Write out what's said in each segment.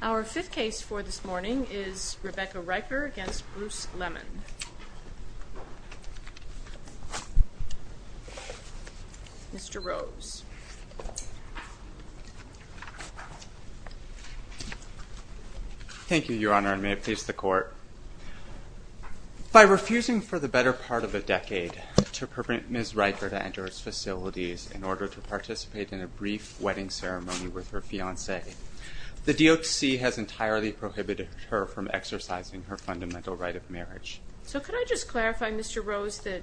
Our fifth case for this morning is Rebecca Riker v. Bruce Lemmon. Mr. Rose. Thank you, Your Honor, and may it please the Court. By refusing for the better part of a decade to permit Ms. Riker to enter its facilities in order to participate in a brief wedding ceremony with her fiancé, the DOTC has entirely prohibited her from exercising her fundamental right of marriage. So could I just clarify, Mr. Rose, that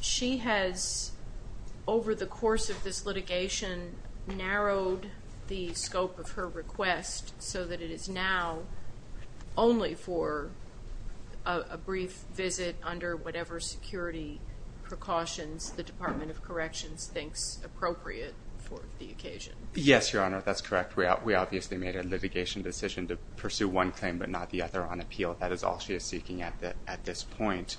she has, over the course of this litigation, narrowed the scope of her request so that it is now only for a brief visit under whatever security precautions the Department of Corrections thinks appropriate for the occasion? Yes, Your Honor, that's correct. We obviously made a litigation decision to pursue one claim but not the other on appeal. That is all she is seeking at this point.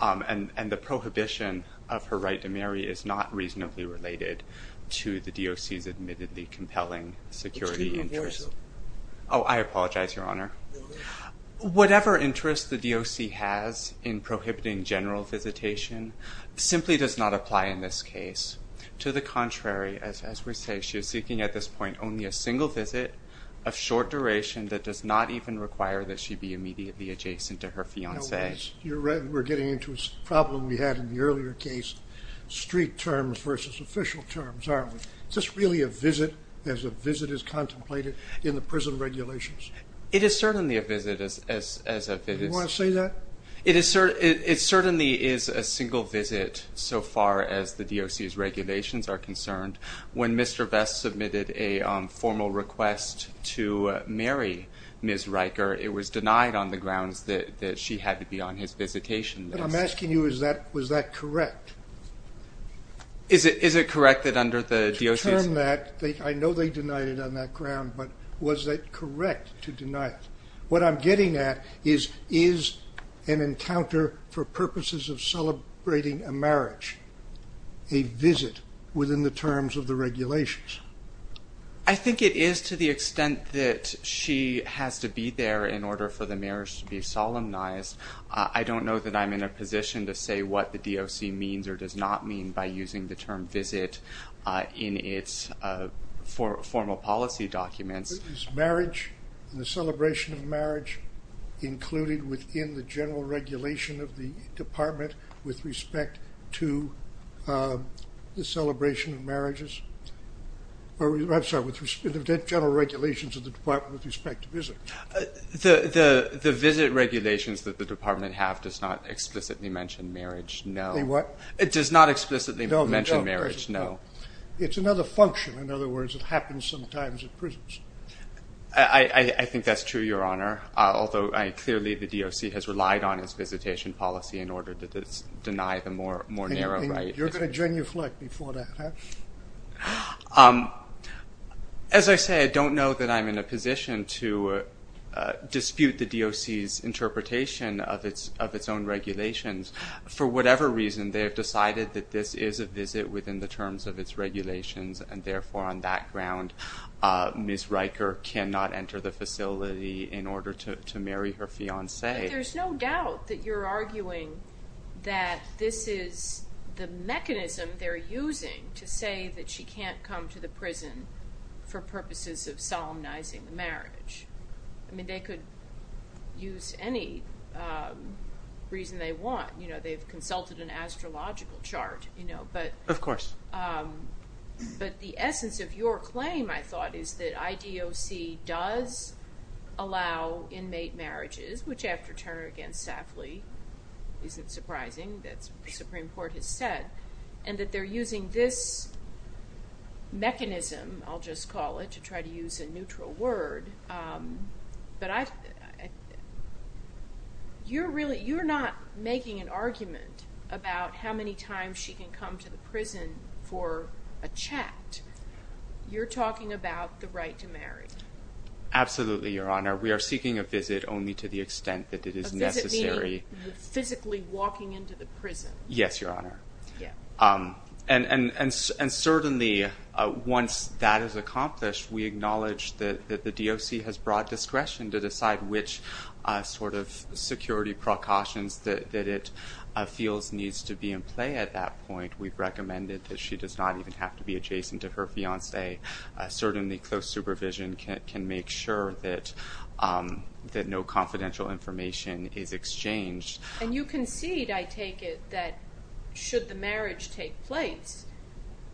And the prohibition of her right to marry is not reasonably related to the DOC's admittedly compelling security interests. Oh, I apologize, Your Honor. Whatever interests the DOC has in prohibiting general visitation simply does not apply in this case. To the contrary, as we say, she is seeking at this point only a single visit of short duration that does not even require that she be immediately adjacent to her fiancé. We're getting into a problem we had in the earlier case, street terms versus official terms, aren't we? Is this really a visit as a visit is contemplated in the prison regulations? It is certainly a visit as a visit. Do you want to say that? It certainly is a single visit so far as the DOC's regulations are concerned. When Mr. Vest submitted a formal request to marry Ms. Riker, it was denied on the grounds that she had to be on his visitation list. But I'm asking you, was that correct? Is it correct that under the DOC's... Given that, I know they denied it on that ground, but was that correct to deny it? What I'm getting at is, is an encounter for purposes of celebrating a marriage a visit within the terms of the regulations? I think it is to the extent that she has to be there in order for the marriage to be solemnized. I don't know that I'm in a position to say what the DOC means or does not mean by using the term visit in its formal policy documents. Is marriage and the celebration of marriage included within the general regulations of the department with respect to the celebration of marriages? I'm sorry, the general regulations of the department with respect to visit? The visit regulations that the department have does not explicitly mention marriage, no. It does not explicitly mention marriage, no. It's another function. In other words, it happens sometimes at prisons. I think that's true, Your Honor, although clearly the DOC has relied on its visitation policy in order to deny the more narrow right. You're going to genuflect before that, huh? As I say, I don't know that I'm in a position to dispute the DOC's interpretation of its own regulations. For whatever reason, they have decided that this is a visit within the terms of its regulations, and therefore, on that ground, Ms. Riker cannot enter the facility in order to marry her fiancé. There's no doubt that you're arguing that this is the mechanism they're using to say that she can't come to the prison for purposes of solemnizing the marriage. I mean, they could use any reason they want. They've consulted an astrological chart. Of course. But the essence of your claim, I thought, is that IDOC does allow inmate marriages, which after Turner v. Safley, isn't surprising that the Supreme Court has said, and that they're using this mechanism, I'll just call it, to try to use a neutral word. But you're not making an argument about how many times she can come to the prison for a chat. You're talking about the right to marry. Absolutely, Your Honor. We are seeking a visit only to the extent that it is necessary. A visit meaning physically walking into the prison. Yes, Your Honor. Yeah. And certainly, once that is accomplished, we acknowledge that the DOC has broad discretion to decide which sort of security precautions that it feels needs to be in play at that point. We've recommended that she does not even have to be adjacent to her fiancé. Certainly, close supervision can make sure that no confidential information is exchanged. And you concede, I take it, that should the marriage take place,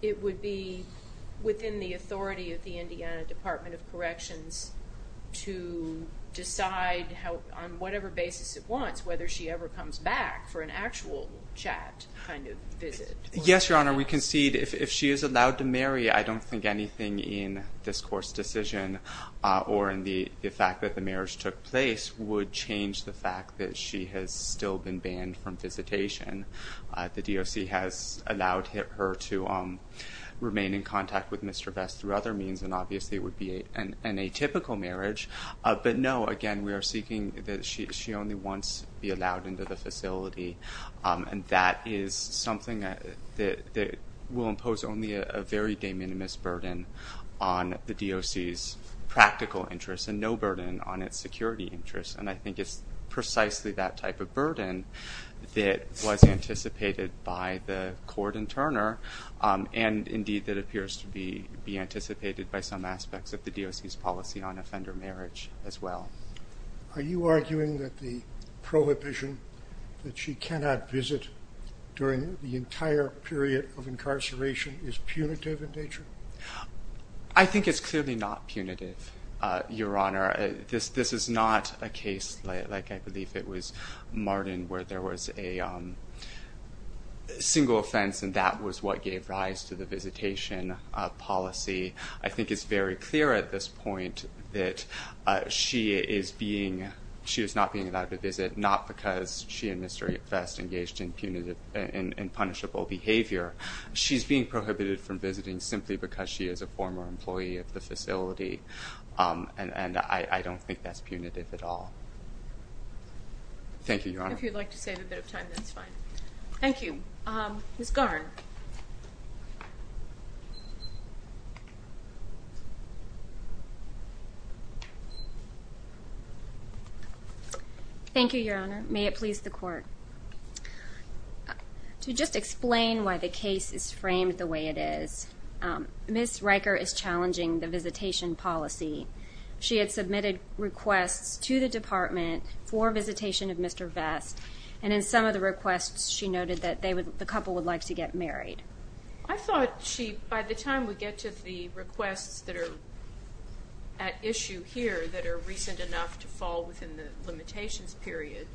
it would be within the authority of the Indiana Department of Corrections to decide on whatever basis it wants, whether she ever comes back for an actual chat kind of visit. Yes, Your Honor. Your Honor, we concede if she is allowed to marry, I don't think anything in this court's decision or in the fact that the marriage took place would change the fact that she has still been banned from visitation. The DOC has allowed her to remain in contact with Mr. Vest through other means, and obviously it would be an atypical marriage. But no, again, we are seeking that she only once be allowed into the facility. And that is something that will impose only a very de minimis burden on the DOC's practical interests and no burden on its security interests. And I think it's precisely that type of burden that was anticipated by the court in Turner, and indeed that appears to be anticipated by some aspects of the DOC's policy on offender marriage as well. Are you arguing that the prohibition that she cannot visit during the entire period of incarceration is punitive in nature? I think it's clearly not punitive, Your Honor. This is not a case like I believe it was Martin where there was a single offense and that was what gave rise to the visitation policy. I think it's very clear at this point that she is not being allowed to visit, not because she and Mr. Vest engaged in punishable behavior. She's being prohibited from visiting simply because she is a former employee of the facility, and I don't think that's punitive at all. Thank you, Your Honor. If you'd like to save a bit of time, that's fine. Thank you. Ms. Garn. Thank you, Your Honor. May it please the court. To just explain why the case is framed the way it is, Ms. Riker is challenging the visitation policy. She had submitted requests to the department for visitation of Mr. Vest, and in some of the requests she noted that the couple would like to get married. I thought she, by the time we get to the requests that are at issue here that are recent enough to fall within the limitations period,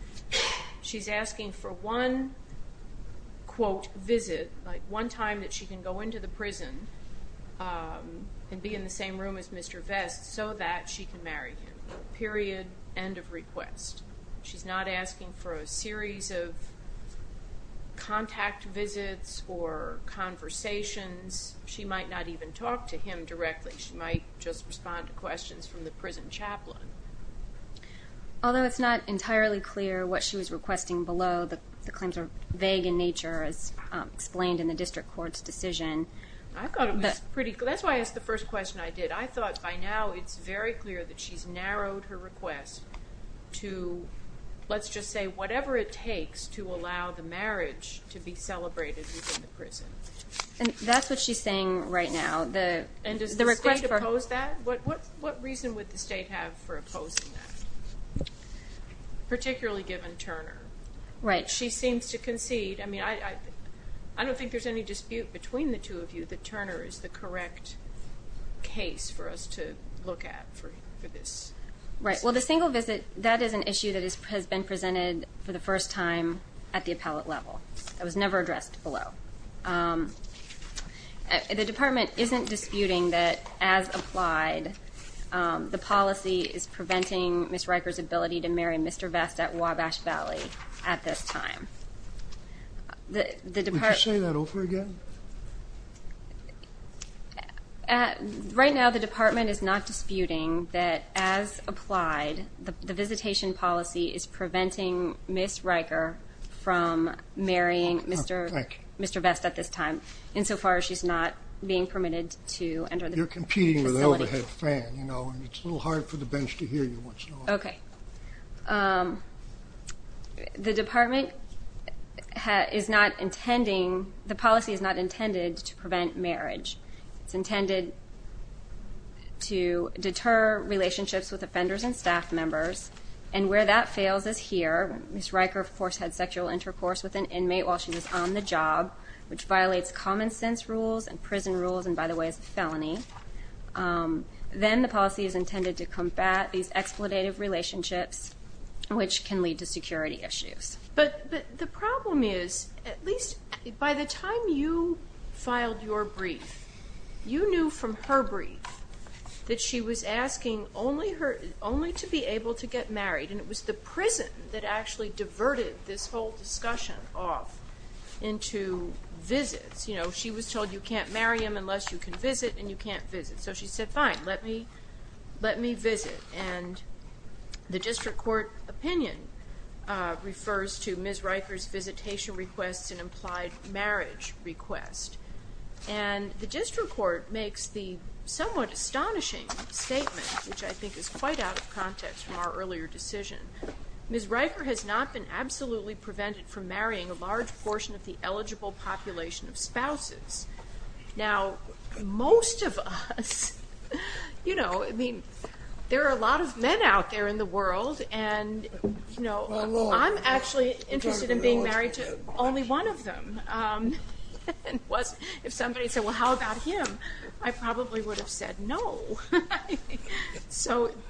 she's asking for one, quote, visit, like one time that she can go into the prison and be in the same room as Mr. Vest so that she can marry him. Period. End of request. She's not asking for a series of contact visits or conversations. She might not even talk to him directly. She might just respond to questions from the prison chaplain. Although it's not entirely clear what she was requesting below, the claims are vague in nature, as explained in the district court's decision. I thought it was pretty clear. That's why I asked the first question I did. I thought by now it's very clear that she's narrowed her request to, let's just say, whatever it takes to allow the marriage to be celebrated within the prison. And that's what she's saying right now. And does the state oppose that? What reason would the state have for opposing that, particularly given Turner? Right. She seems to concede. I mean, I don't think there's any dispute between the two of you that Turner is the correct case for us to look at for this. Right. Well, the single visit, that is an issue that has been presented for the first time at the appellate level. It was never addressed below. The department isn't disputing that, as applied, the policy is preventing Ms. Riker's ability to marry Mr. Vest at Wabash Valley at this time. Would you say that over again? Right now the department is not disputing that, as applied, the visitation policy is preventing Ms. Riker from marrying Mr. Vest at this time, insofar as she's not being permitted to enter the facility. You're competing with an overhead fan, you know, and it's a little hard for the bench to hear you once in a while. Okay. The department is not intending, the policy is not intended to prevent marriage. It's intended to deter relationships with offenders and staff members, and where that fails is here. Ms. Riker, of course, had sexual intercourse with an inmate while she was on the job, which violates common sense rules and prison rules and, by the way, is a felony. Then the policy is intended to combat these exploitative relationships, which can lead to security issues. But the problem is, at least by the time you filed your brief, you knew from her brief that she was asking only to be able to get married, and it was the prison that actually diverted this whole discussion off into visits. You know, she was told you can't marry him unless you can visit, and you can't visit. So she said, fine, let me visit. And the district court opinion refers to Ms. Riker's visitation requests and implied marriage request. And the district court makes the somewhat astonishing statement, which I think is quite out of context from our earlier decision. Ms. Riker has not been absolutely prevented from marrying a large portion of the eligible population of spouses. Now, most of us, you know, I mean, there are a lot of men out there in the world, and I'm actually interested in being married to only one of them. If somebody said, well, how about him, I probably would have said no.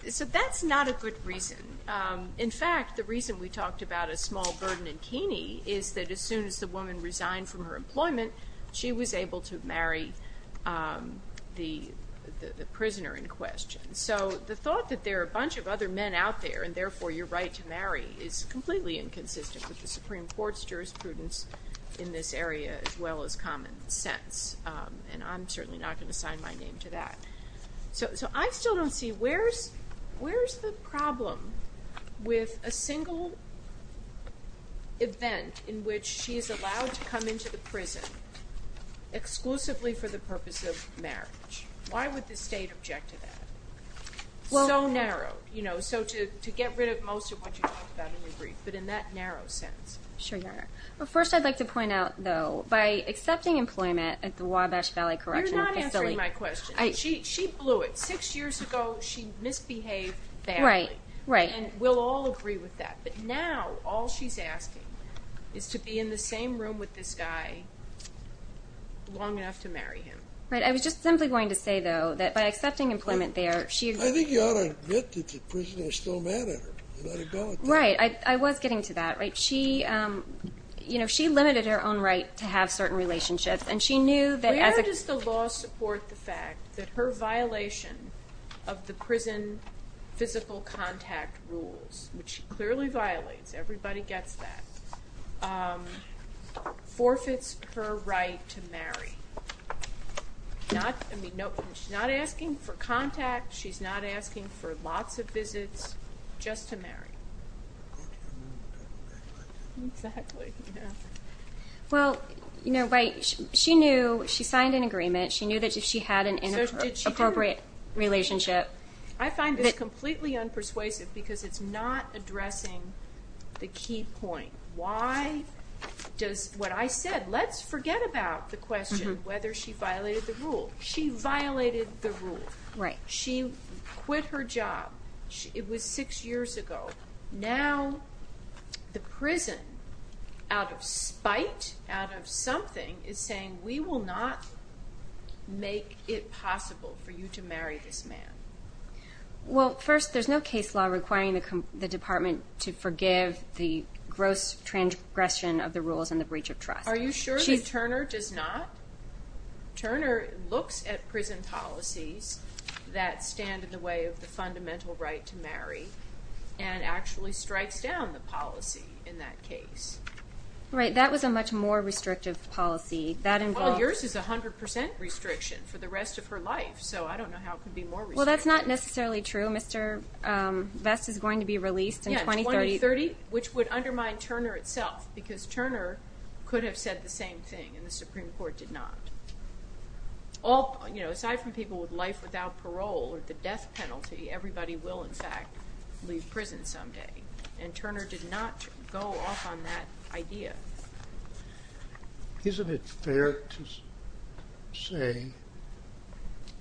So that's not a good reason. In fact, the reason we talked about a small burden in Keeney is that as soon as the woman resigned from her employment, she was able to marry the prisoner in question. So the thought that there are a bunch of other men out there, and therefore your right to marry, is completely inconsistent with the Supreme Court's jurisprudence in this area, as well as common sense. And I'm certainly not going to sign my name to that. So I still don't see where's the problem with a single event in which she is allowed to come into the prison exclusively for the purpose of marriage? Why would the state object to that? So narrow, you know, so to get rid of most of what you talked about in your brief, but in that narrow sense. Sure, Your Honor. Well, first I'd like to point out, though, by accepting employment at the Wabash Valley Correctional Facility. You're not answering my question. She blew it. Six years ago, she misbehaved badly. Right, right. And we'll all agree with that. But now all she's asking is to be in the same room with this guy long enough to marry him. Right. I was just simply going to say, though, that by accepting employment there, she agreed. I think you ought to admit that the prisoner is still mad at her. Let her go. Right. I was getting to that. Right. She, you know, she limited her own right to have certain relationships, and she knew that as a- Where does the law support the fact that her violation of the prison physical contact rules, which she clearly violates, everybody gets that, forfeits her right to marry? Not, I mean, she's not asking for contact. She's not asking for lots of visits just to marry. Exactly, yeah. Well, you know, right, she knew she signed an agreement. She knew that she had an inappropriate relationship. I find this completely unpersuasive because it's not addressing the key point. Why does what I said, let's forget about the question whether she violated the rule. She violated the rule. Right. She quit her job. It was six years ago. Now the prison, out of spite, out of something, is saying, we will not make it possible for you to marry this man. Well, first, there's no case law requiring the department to forgive the gross transgression of the rules and the breach of trust. Are you sure that Turner does not? Turner looks at prison policies that stand in the way of the fundamental right to marry and actually strikes down the policy in that case. Right, that was a much more restrictive policy. Well, yours is 100% restriction for the rest of her life, so I don't know how it could be more restrictive. Well, that's not necessarily true. Mr. Vest is going to be released in 2030. Yeah, 2030, which would undermine Turner itself because Turner could have said the same thing and the Supreme Court did not. Aside from people with life without parole or the death penalty, everybody will, in fact, leave prison someday, and Turner did not go off on that idea. Isn't it fair to say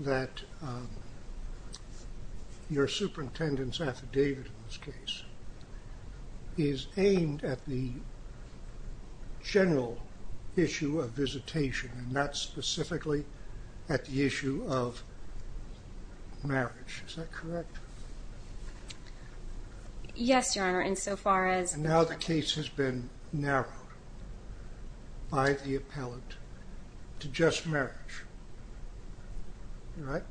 that your superintendent's affidavit in this case is aimed at the general issue of visitation and not specifically at the issue of marriage? Is that correct? Yes, Your Honor. And now the case has been narrowed by the appellate to just marriage, right?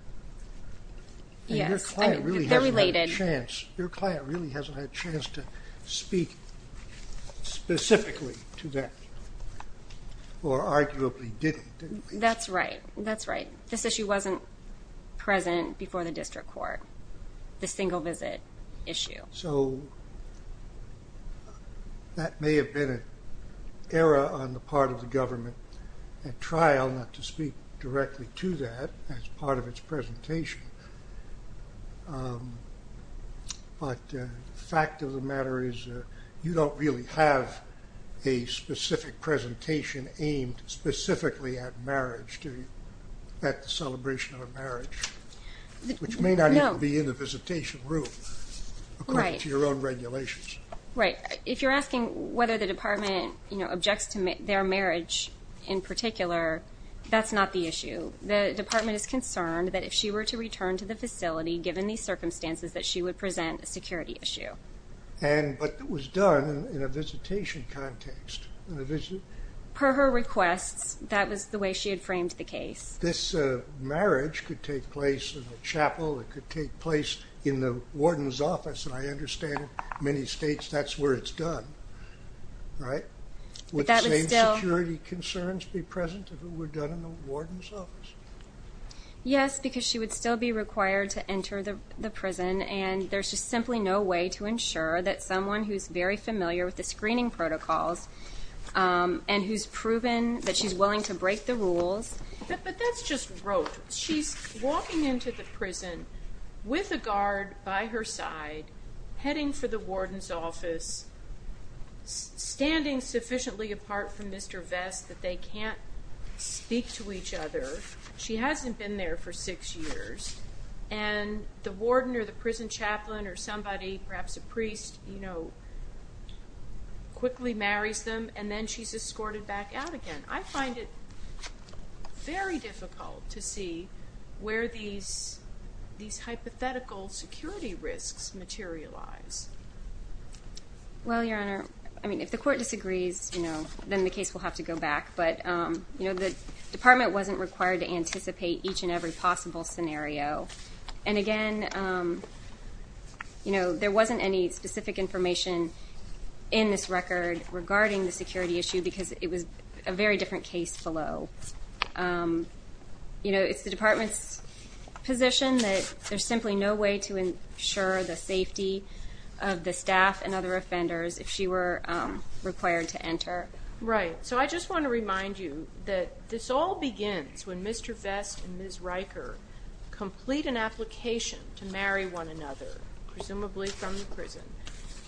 Yes, they're related. Your client really hasn't had a chance to speak specifically to that, or arguably didn't. That's right, that's right. This issue wasn't present before the district court, the single visit issue. So that may have been an error on the part of the government at trial not to speak directly to that as part of its presentation. But the fact of the matter is you don't really have a specific presentation aimed specifically at marriage, at the celebration of marriage, which may not even be in the visitation room. Right. According to your own regulations. Right. If you're asking whether the department objects to their marriage in particular, that's not the issue. The department is concerned that if she were to return to the facility, given these circumstances, that she would present a security issue. But it was done in a visitation context. Per her requests, that was the way she had framed the case. If this marriage could take place in a chapel, it could take place in the warden's office, and I understand in many states that's where it's done, right? Would the same security concerns be present if it were done in the warden's office? Yes, because she would still be required to enter the prison, and there's just simply no way to ensure that someone who's very familiar with the screening protocols and who's proven that she's willing to break the rules. But that's just rote. She's walking into the prison with a guard by her side, heading for the warden's office, standing sufficiently apart from Mr. Vest that they can't speak to each other. She hasn't been there for six years, and the warden or the prison chaplain or somebody, perhaps a priest, quickly marries them, and then she's escorted back out again. I find it very difficult to see where these hypothetical security risks materialize. Well, Your Honor, if the court disagrees, then the case will have to go back. But the department wasn't required to anticipate each and every possible scenario. And again, there wasn't any specific information in this record regarding the security issue because it was a very different case below. It's the department's position that there's simply no way to ensure the safety of the staff and other offenders if she were required to enter. Right. So I just want to remind you that this all begins when Mr. Vest and Ms. Riker complete an application to marry one another, presumably from the prison,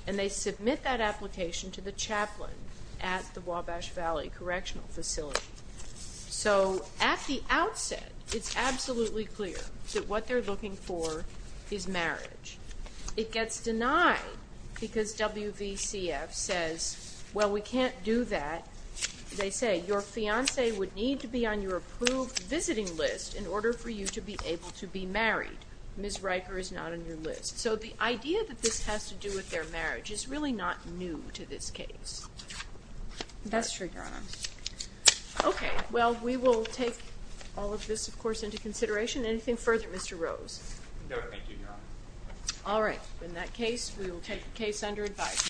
and they submit that application to the chaplain at the Wabash Valley Correctional Facility. So at the outset, it's absolutely clear that what they're looking for is marriage. It gets denied because WVCF says, well, we can't do that. They say, your fiancé would need to be on your approved visiting list in order for you to be able to be married. Ms. Riker is not on your list. So the idea that this has to do with their marriage is really not new to this case. That's true, Your Honor. Okay. Well, we will take all of this, of course, into consideration. Anything further, Mr. Rose? No, thank you, Your Honor. All right. In that case, we will take the case under advice.